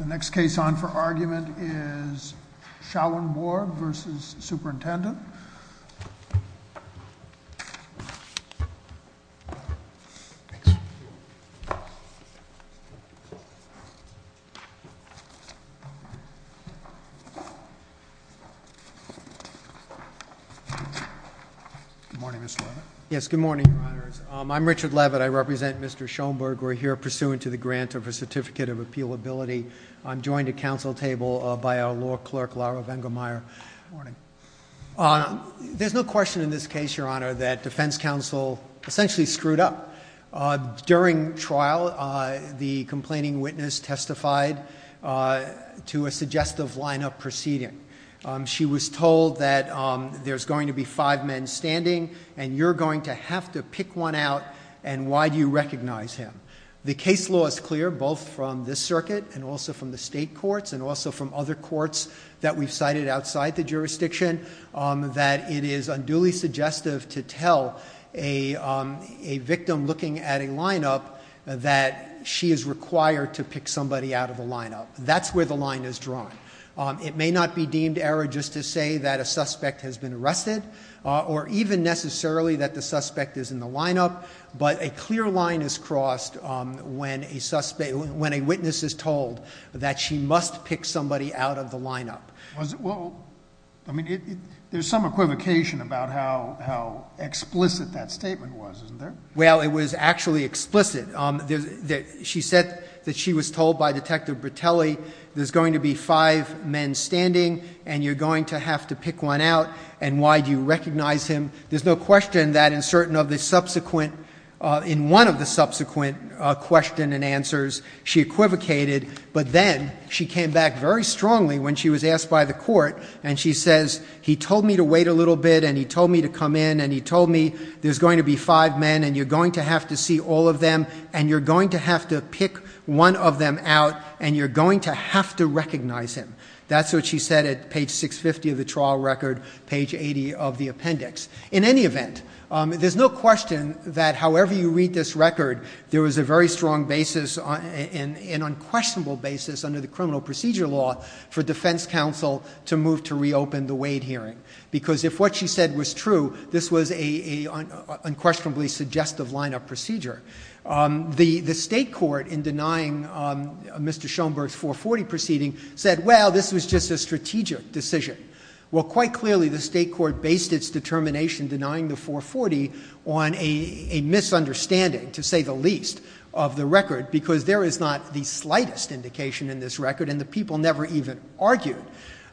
The next case on for argument is Schouenborg v. Superintendent. Good morning, Mr. Leavitt. Yes, good morning, Your Honors. I'm Richard Leavitt. I represent Mr. Schouenborg. We're here pursuant to the grant of a certificate of appealability. I'm joined at council table by our law clerk, Laura Vengemeyer. Good morning. There's no question in this case, Your Honor, that defense counsel essentially screwed up. During trial, the complaining witness testified to a suggestive lineup proceeding. She was told that there's going to be five men standing, and you're going to have to pick one out, and why do you recognize him? The case law is clear, both from this circuit, and also from the state courts, and also from other courts that we've cited outside the jurisdiction, that it is unduly suggestive to tell a victim looking at a lineup that she is required to pick somebody out of the lineup, that's where the line is drawn. It may not be deemed error just to say that a suspect has been arrested, or even necessarily that the suspect is in the lineup. But a clear line is crossed when a witness is told that she must pick somebody out of the lineup. Well, I mean, there's some equivocation about how explicit that statement was, isn't there? Well, it was actually explicit. She said that she was told by Detective Bertelli, there's going to be five men standing, and you're going to have to pick one out, and why do you recognize him? There's no question that in one of the subsequent question and answers, she equivocated. But then, she came back very strongly when she was asked by the court, and she says, he told me to wait a little bit, and he told me to come in, and he told me there's going to be five men, and you're going to have to see all of them, and you're going to have to pick one of them out, and you're going to have to recognize him. That's what she said at page 650 of the trial record, page 80 of the appendix. In any event, there's no question that however you read this record, there was a very strong basis, an unquestionable basis under the criminal procedure law for defense counsel to move to reopen the Wade hearing, because if what she said was true, this was a unquestionably suggestive line of procedure. The state court in denying Mr. Schoenberg's 440 proceeding said, well, this was just a strategic decision. Well, quite clearly, the state court based its determination denying the 440 on a misunderstanding, to say the least, of the record, because there is not the slightest indication in this record, and the people never even argued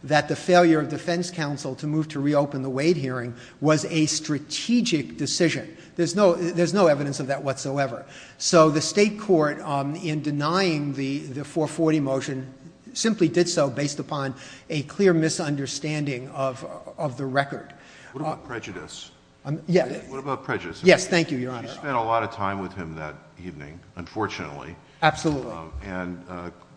that the failure of defense counsel to move to reopen the Wade hearing was a strategic decision, there's no evidence of that whatsoever. So the state court, in denying the 440 motion, simply did so based upon a clear misunderstanding of the record. What about prejudice? Yeah. What about prejudice? Yes, thank you, your honor. She spent a lot of time with him that evening, unfortunately. And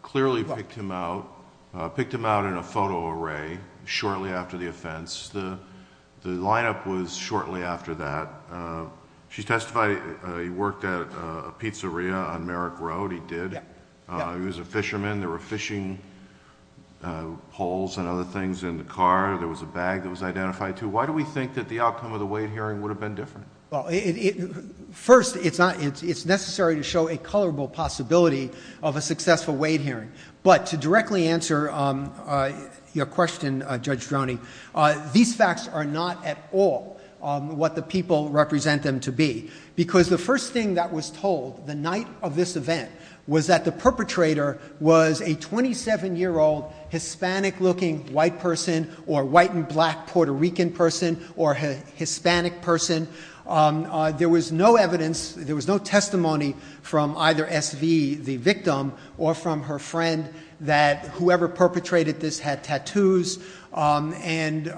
clearly picked him out in a photo array shortly after the offense. The lineup was shortly after that. She testified he worked at a pizzeria on Merrick Road, he did. Yeah, yeah. He was a fisherman, there were fishing poles and other things in the car. There was a bag that was identified, too. Why do we think that the outcome of the Wade hearing would have been different? Well, first, it's necessary to show a colorable possibility of a successful Wade hearing. But to directly answer your question, Judge Droney, these facts are not at all what the people represent them to be. Because the first thing that was told the night of this event was that the perpetrator was a 27-year-old Hispanic-looking white person, or white and black Puerto Rican person, or Hispanic person. There was no evidence, there was no testimony from either SV, the victim, or from her friend that whoever perpetrated this had tattoos. And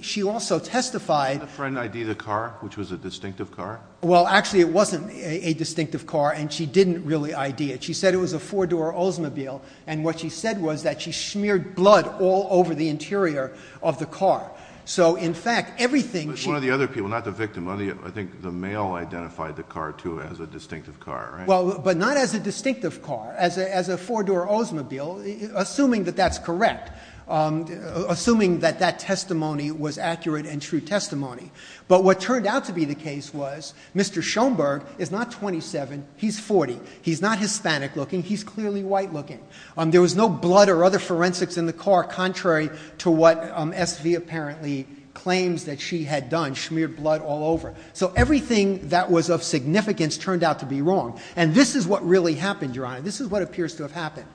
she also testified- Did the friend ID the car, which was a distinctive car? Well, actually, it wasn't a distinctive car, and she didn't really ID it. She said it was a four-door Oldsmobile. And what she said was that she smeared blood all over the interior of the car. So in fact, everything- But one of the other people, not the victim, I think the male identified the car, too, as a distinctive car, right? Well, but not as a distinctive car, as a four-door Oldsmobile, assuming that that's correct. Assuming that that testimony was accurate and true testimony. But what turned out to be the case was, Mr. Schoenberg is not 27, he's 40. He's not Hispanic-looking, he's clearly white-looking. There was no blood or other forensics in the car, contrary to what SV apparently claims that she had done, smeared blood all over. So everything that was of significance turned out to be wrong. And this is what really happened, Your Honor. This is what appears to have happened.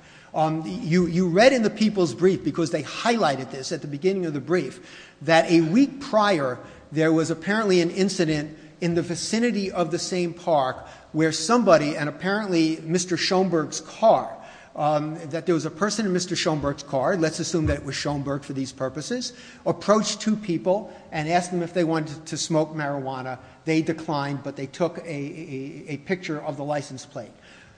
You read in the people's brief, because they highlighted this at the beginning of the brief, that a week prior, there was apparently an incident in the vicinity of the same park, where somebody, and apparently Mr. Schoenberg's car, that there was a person in Mr. Schoenberg's car, let's assume that it was Schoenberg for these purposes, approached two people and asked them if they wanted to smoke marijuana. They declined, but they took a picture of the license plate.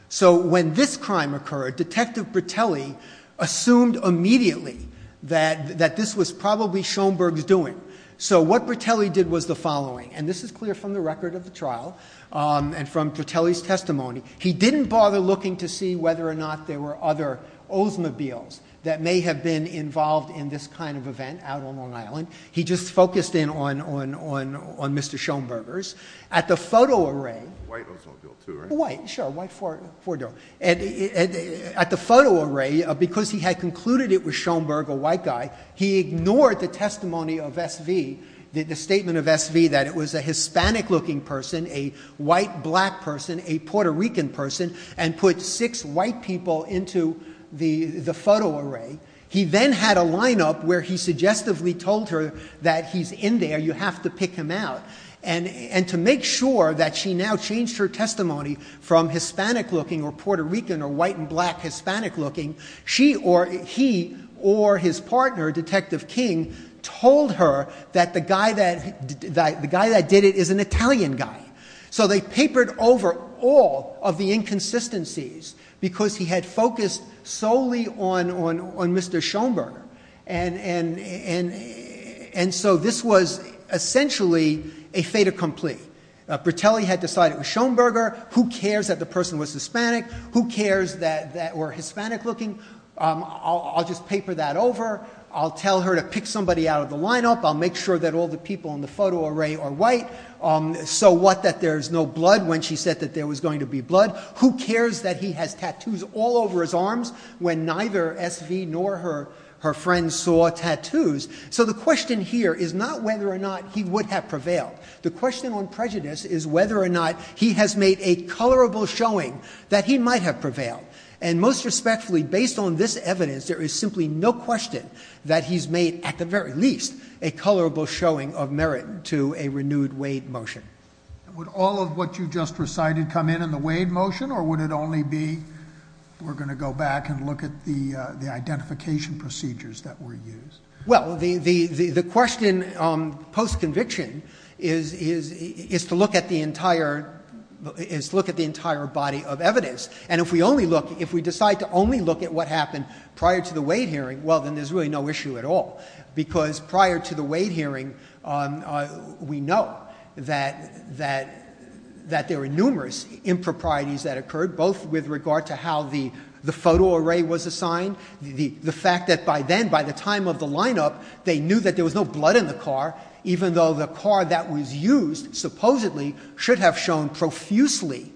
So when this crime occurred, Detective Bertelli assumed immediately that this was probably Schoenberg's doing. So what Bertelli did was the following, and this is clear from the record of the trial and from Bertelli's testimony. He didn't bother looking to see whether or not there were other Oldsmobiles that may have been involved in this kind of event out on Long Island. He just focused in on Mr. Schoenbergers. At the photo array- White Oldsmobile too, right? White, sure, white four-door. At the photo array, because he had concluded it was Schoenberg, a white guy, he ignored the testimony of SV, the statement of SV, that it was a Hispanic-looking person, a white black person, a Puerto Rican person, and put six white people into the photo array. He then had a lineup where he suggestively told her that he's in there, you have to pick him out. And to make sure that she now changed her testimony from Hispanic-looking or Puerto Rican or white and black Hispanic-looking. He or his partner, Detective King, told her that the guy that did it is an Italian guy. So they papered over all of the inconsistencies because he had focused solely on Mr. Schoenberger and so this was essentially a fait accompli. Bertelli had decided it was Schoenberger, who cares that the person was Hispanic, who cares that we're Hispanic-looking. I'll just paper that over, I'll tell her to pick somebody out of the lineup, I'll make sure that all the people in the photo array are white, so what that there's no blood when she said that there was going to be blood. Who cares that he has tattoos all over his arms when neither SV nor her friend saw tattoos. So the question here is not whether or not he would have prevailed. The question on prejudice is whether or not he has made a colorable showing that he might have prevailed. And most respectfully, based on this evidence, there is simply no question that he's made, at the very least, a colorable showing of merit to a renewed Wade motion. Would all of what you just recited come in in the Wade motion, or would it only be, we're going to go back and look at the identification procedures that were used? Well, the question post-conviction is to look at the entire body of evidence. And if we decide to only look at what happened prior to the Wade hearing, well then there's really no issue at all. Because prior to the Wade hearing, we know that there were numerous improprieties that occurred, both with regard to how the photo array was assigned. The fact that by then, by the time of the lineup, they knew that there was no blood in the car, even though the car that was used supposedly should have shown profusely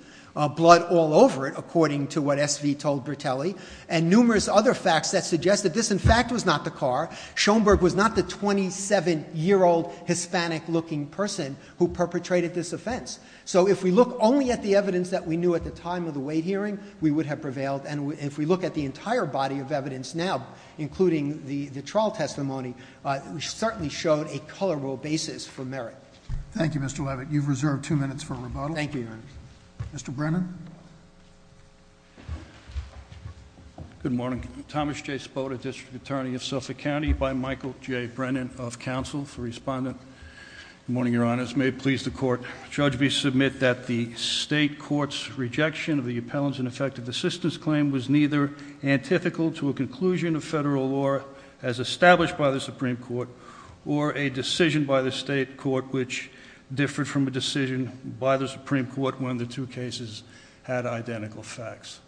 blood all over it, according to what SV told Bertelli. And numerous other facts that suggest that this, in fact, was not the car. Schoenberg was not the 27-year-old Hispanic-looking person who perpetrated this offense. So if we look only at the evidence that we knew at the time of the Wade hearing, we would have prevailed. And if we look at the entire body of evidence now, including the trial testimony, it certainly showed a colorable basis for merit. Thank you, Mr. Levitt. You've reserved two minutes for rebuttal. Thank you. Mr. Brennan? Good morning. Thomas J. Spoda, District Attorney of Suffolk County, by Michael J. Brennan of Counsel for Respondent. Good morning, your honors. May it please the court. Judge, we submit that the state court's rejection of the appellant's ineffective assistance claim was neither antithetical to a conclusion of federal law as established by the Supreme Court or a decision by the state court which differed from a decision by the Supreme Court when the two cases had identical facts.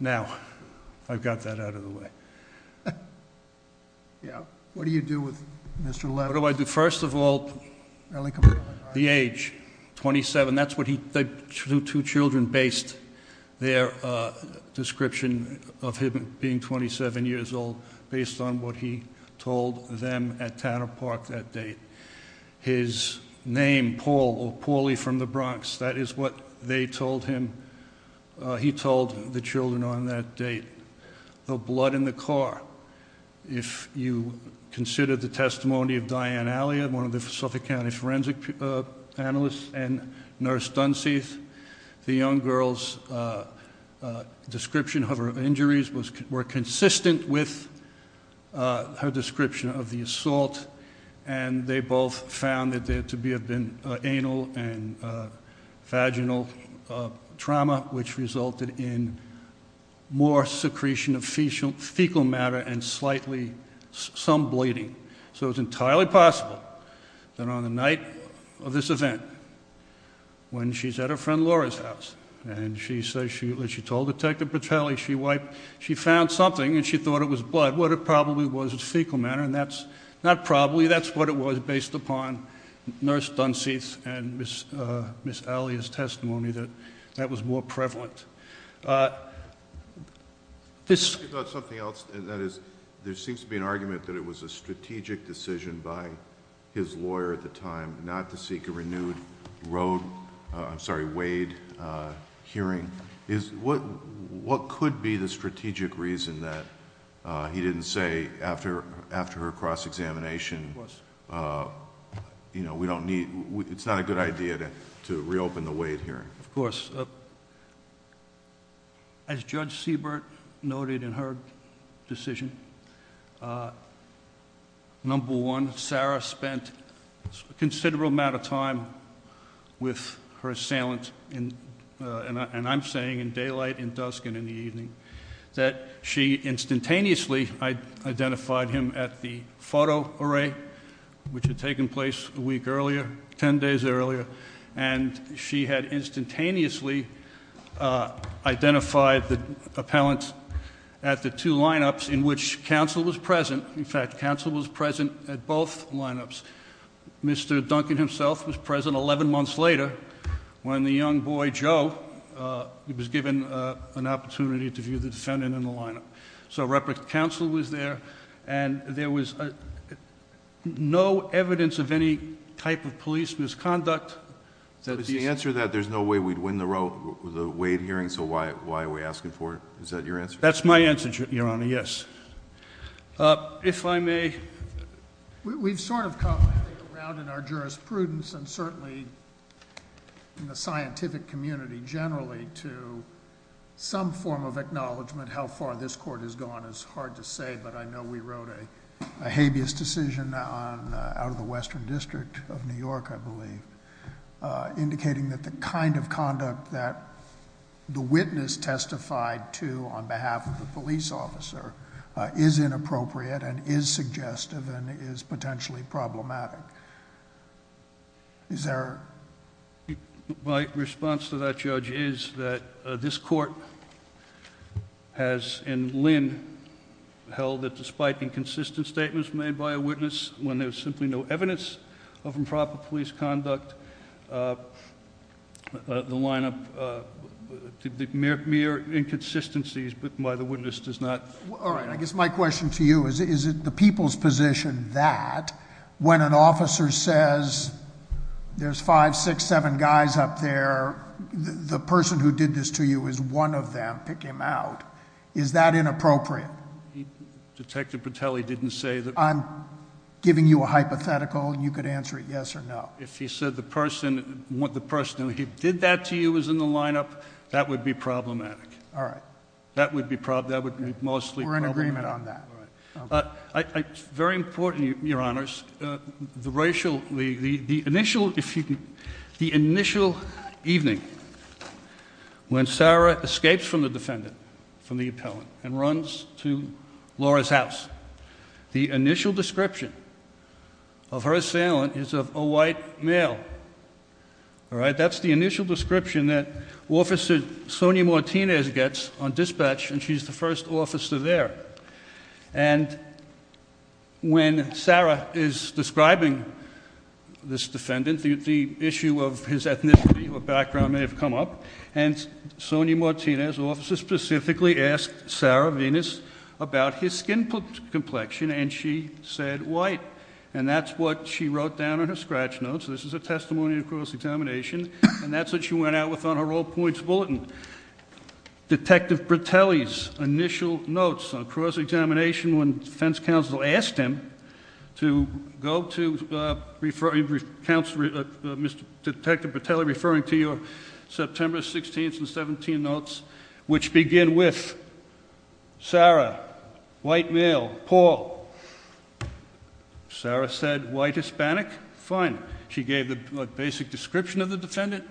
Now, I've got that out of the way. Yeah, what do you do with Mr. Levitt? What do I do? First of all, the age, 27. That's what he, the two children based their description of him being 27 years old based on what he told them at Tanner Park that day. His name, Paul, or Paulie from the Bronx, that is what they told him. He told the children on that date, the blood in the car. If you consider the testimony of Diane Allia, one of the Suffolk County forensic analysts, and Nurse Dunseith, the young girl's description of her injuries were consistent with her description of the assault. And they both found that there to have been anal and vaginal trauma which resulted in more secretion of fecal matter and slightly, some bleeding. So it's entirely possible that on the night of this event, when she's at her friend Laura's house. And she says, she told Detective Bertelli, she wiped, she found something and she thought it was blood. Not what it probably was, it's fecal matter and that's, not probably, that's what it was based upon. Nurse Dunseith and Ms. Allia's testimony that that was more prevalent. This- About something else, and that is, there seems to be an argument that it was a strategic decision by his lawyer at the time, not to seek a renewed road, I'm sorry, Wade hearing. Is, what could be the strategic reason that he didn't say after her cross-examination, we don't need, it's not a good idea to reopen the Wade hearing? Of course, as Judge Seabert noted in her decision, number one, Sarah spent a considerable amount of time with her assailant, and I'm saying in daylight, in dusk, and in the evening. That she instantaneously identified him at the photo array, which had taken place a week earlier, ten days earlier, and she had instantaneously identified the appellant at the two lineups in which counsel was present, in fact, counsel was present at both lineups. Mr. Duncan himself was present 11 months later, when the young boy, Joe, was given an opportunity to view the defendant in the lineup. So repre-counsel was there, and there was no evidence of any type of police misconduct. That is- The answer to that, there's no way we'd win the Wade hearing, so why are we asking for it? Is that your answer? That's my answer, Your Honor, yes. If I may- We've sort of come around in our jurisprudence and certainly in the scientific community generally to some form of acknowledgment how far this court has gone is hard to say, but I know we wrote a habeas decision out of the Western District of New York, I believe. Indicating that the kind of conduct that the witness testified to on behalf of the police officer is inappropriate and is suggestive and is potentially problematic. Is there- My response to that, Judge, is that this court has, in Linn, held that despite inconsistent statements made by a witness when there's simply no evidence of improper police conduct, the lineup, the mere inconsistencies by the witness does not- All right, I guess my question to you is, is it the people's position that when an officer says, there's five, six, seven guys up there, the person who did this to you is one of them, pick him out. Is that inappropriate? Detective Petelli didn't say that- I'm giving you a hypothetical, you could answer it yes or no. If he said the person who did that to you was in the lineup, that would be problematic. All right. That would be mostly problematic. We're in agreement on that. Very important, your honors, the racial, the initial evening when Sarah escapes from the defendant, from the appellant, and runs to Laura's house. The initial description of her assailant is of a white male. All right, that's the initial description that Officer Sonia Martinez gets on dispatch, and she's the first officer there. And when Sarah is describing this defendant, the issue of his ethnicity or background may have come up, and Sonia Martinez' officer specifically asked Sarah Venus about his skin complexion, and she said white. And that's what she wrote down in her scratch notes. This is a testimony of cross-examination, and that's what she went out with on her all points bulletin. Detective Petelli's initial notes on cross-examination when defense counsel asked him to go to, Mr. Detective Petelli referring to your September 16th and 17th notes, which begin with Sarah, white male, Paul. Sarah said white Hispanic, fine. She gave the basic description of the defendant,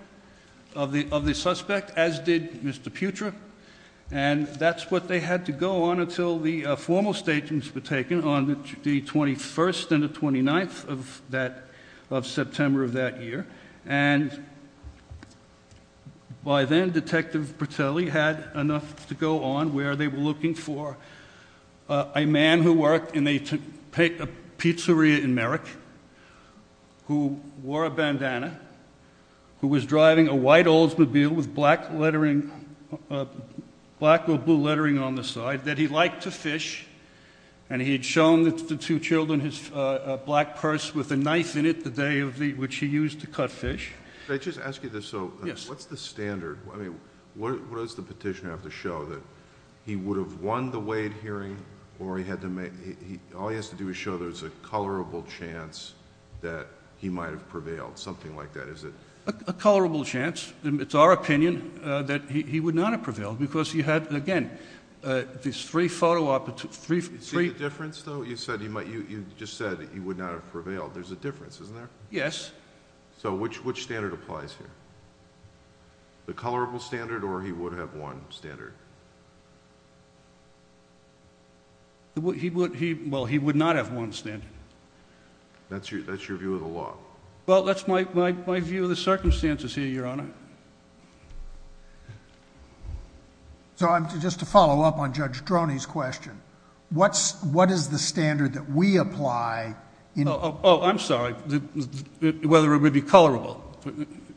of the suspect, as did Mr. Putra. And that's what they had to go on until the formal statements were taken on the 21st and the 29th of September of that year. And by then, Detective Petelli had enough to go on where they were looking for a man who worked in a pizzeria in Merrick, who wore a bandana, who was driving a white Oldsmobile with black or blue lettering on the side, that he liked to fish, and he had shown the two children his black purse with a knife in it the day of the, which he used to cut fish. Can I just ask you this though? Yes. What's the standard? I mean, what does the petitioner have to show? That he would have won the Wade hearing, or he had to make, all he has to do is show there's a colorable chance that he might have prevailed, something like that, is it? A colorable chance, and it's our opinion that he would not have prevailed, because he had, again, these three photo opportunities, three- You see the difference, though? You said he might, you just said he would not have prevailed. There's a difference, isn't there? Yes. So which standard applies here? The colorable standard, or he would have won standard? Well, he would not have won standard. That's your view of the law? Well, that's my view of the circumstances here, Your Honor. So I'm, just to follow up on Judge Droney's question, what's, what is the standard that we apply in- Oh, I'm sorry, whether it would be colorable,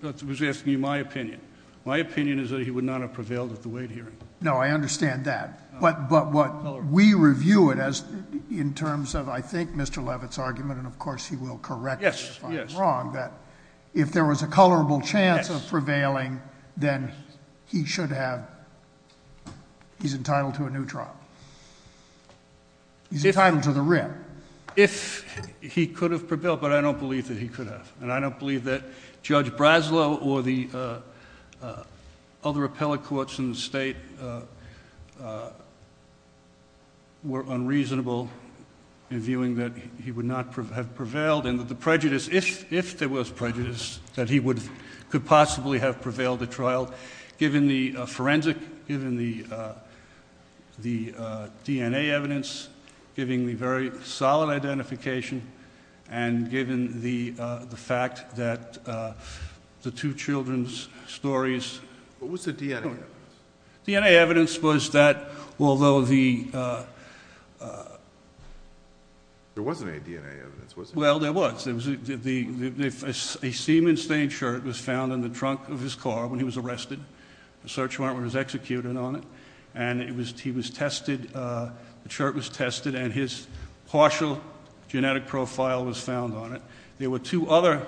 that was asking you my opinion. My opinion is that he would not have prevailed at the Wade hearing. No, I understand that. But what we review it as, in terms of, I think, Mr. Levitt's argument, and of course he will correct me if I'm wrong, that if there was a colorable chance of prevailing, then he should have, he's entitled to a new trial. He's entitled to the writ. If he could have prevailed, but I don't believe that he could have. And I don't believe that Judge Braslow or the other appellate courts in the state were unreasonable in viewing that he would not have prevailed. And that the prejudice, if there was prejudice, that he could possibly have prevailed the trial, given the forensic, given the DNA evidence, giving the very solid identification, and given the fact that the two children's stories- What was the DNA evidence? DNA evidence was that, although the- There wasn't any DNA evidence, was there? Well, there was. A semen-stained shirt was found in the trunk of his car when he was arrested. The search warrant was executed on it. And he was tested, the shirt was tested, and his partial genetic profile was found on it. There were two other-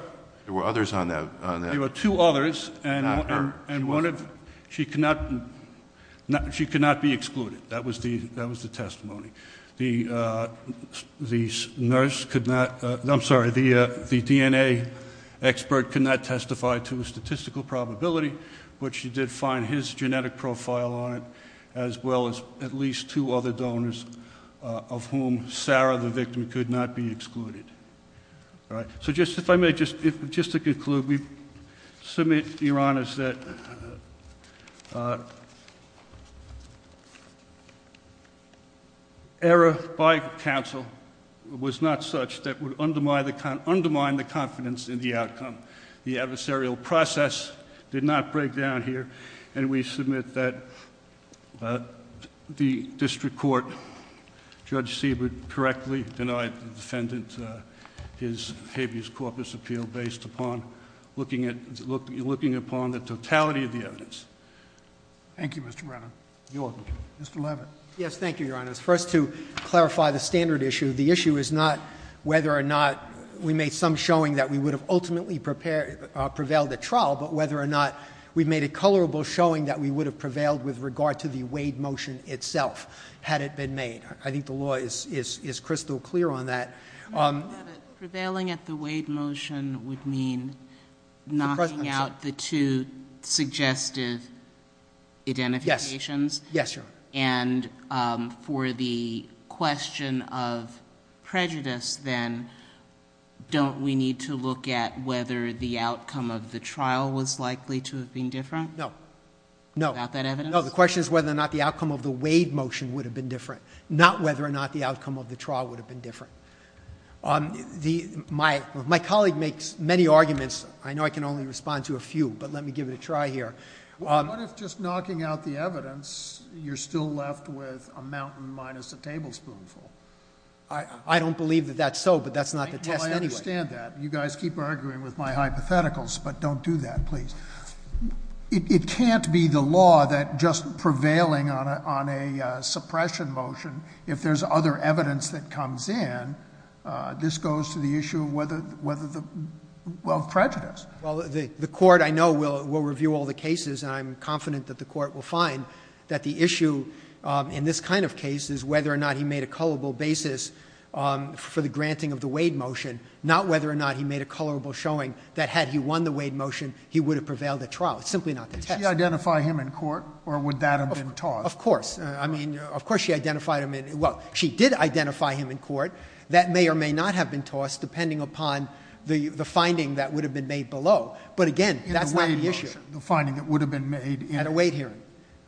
There were others on that? There were two others, and one of, she could not be excluded. That was the testimony. The nurse could not, I'm sorry, the DNA expert could not testify to a statistical probability, but she did find his genetic profile on it, as well as at least two other donors, of whom Sarah, the victim, could not be excluded. So just, if I may, just to conclude, we submit your honors that error by counsel was not such that would undermine the confidence in the outcome. The adversarial process did not break down here, and we submit that the district court, Judge Seabrook, correctly denied the defendant his habeas corpus appeal based upon looking upon the totality of the evidence. Thank you, Mr. Brennan. Your honor. Mr. Levin. Yes, thank you, your honors. First, to clarify the standard issue, the issue is not whether or not we made some showing that we would have ultimately prevailed the trial, but whether or not we made a colorable showing that we would have prevailed with regard to the Wade motion itself, had it been made. I think the law is crystal clear on that. Prevailing at the Wade motion would mean knocking out the two suggested identifications. Yes, your honor. And for the question of prejudice, then, don't we need to look at whether the outcome of the trial was likely to have been different? No. No. About that evidence? No, the question is whether or not the outcome of the Wade motion would have been different. Not whether or not the outcome of the trial would have been different. My colleague makes many arguments, I know I can only respond to a few, but let me give it a try here. What if just knocking out the evidence, you're still left with a mountain minus a tablespoon full? I don't believe that that's so, but that's not the test anyway. Well, I understand that. You guys keep arguing with my hypotheticals, but don't do that, please. It can't be the law that just prevailing on a suppression motion, if there's other evidence that comes in, this goes to the issue of prejudice. Well, the court, I know, will review all the cases, and I'm confident that the court will find that the issue in this kind of case is whether or not he made a culpable basis for the granting of the Wade motion. Not whether or not he made a culpable showing that had he won the Wade motion, he would have prevailed at trial. It's simply not the test. Did she identify him in court, or would that have been tossed? Of course. I mean, of course she identified him in, well, she did identify him in court. That may or may not have been tossed, depending upon the finding that would have been made below. But again, that's not the issue. The finding that would have been made in- At a Wade hearing.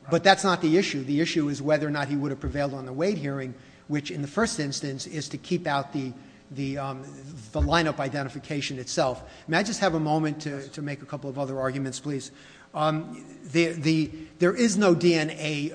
But that's not the issue. The issue is whether or not he would have prevailed on the Wade hearing, which in the first instance is to keep out the lineup identification itself. There is no DNA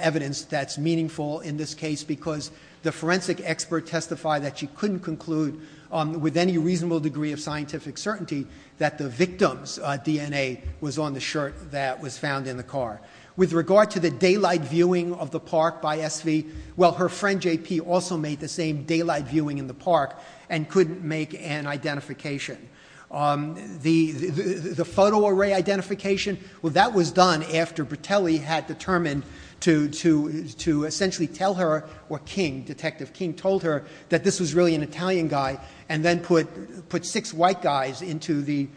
evidence that's meaningful in this case because the forensic expert testified that she couldn't conclude with any reasonable degree of scientific certainty that the victim's DNA was on the shirt that was found in the car. With regard to the daylight viewing of the park by SV, well, her friend JP also made the same daylight viewing in the park and couldn't make an identification. The photo array identification, well, that was done after Bertelli had determined to essentially tell her, or King, Detective King, told her that this was really an Italian guy. And then put six white guys into the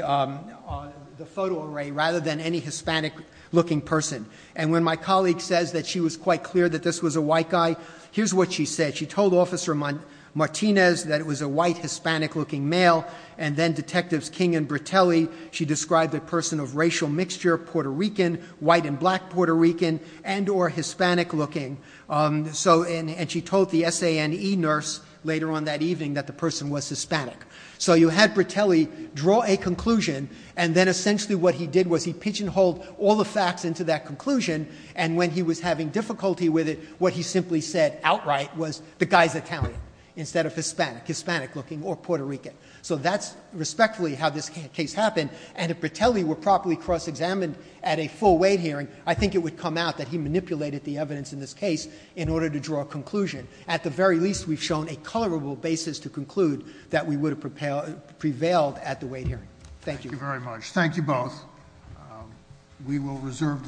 photo array rather than any Hispanic looking person. And when my colleague says that she was quite clear that this was a white guy, here's what she said. She told Officer Martinez that it was a white, Hispanic looking male, and then Detectives King and Bertelli. She described a person of racial mixture, Puerto Rican, white and black Puerto Rican, and or Hispanic looking. So, and she told the SANE nurse later on that evening that the person was Hispanic. So you had Bertelli draw a conclusion, and then essentially what he did was he pigeonholed all the facts into that conclusion. And when he was having difficulty with it, what he simply said outright was the guy's Italian instead of Hispanic, Hispanic looking or Puerto Rican. So that's respectfully how this case happened. And if Bertelli were properly cross examined at a full weight hearing, I think it would come out that he manipulated the evidence in this case in order to draw a conclusion. At the very least, we've shown a colorable basis to conclude that we would have prevailed at the weight hearing. Thank you. Thank you very much. Thank you both. We will reserve decision in this case.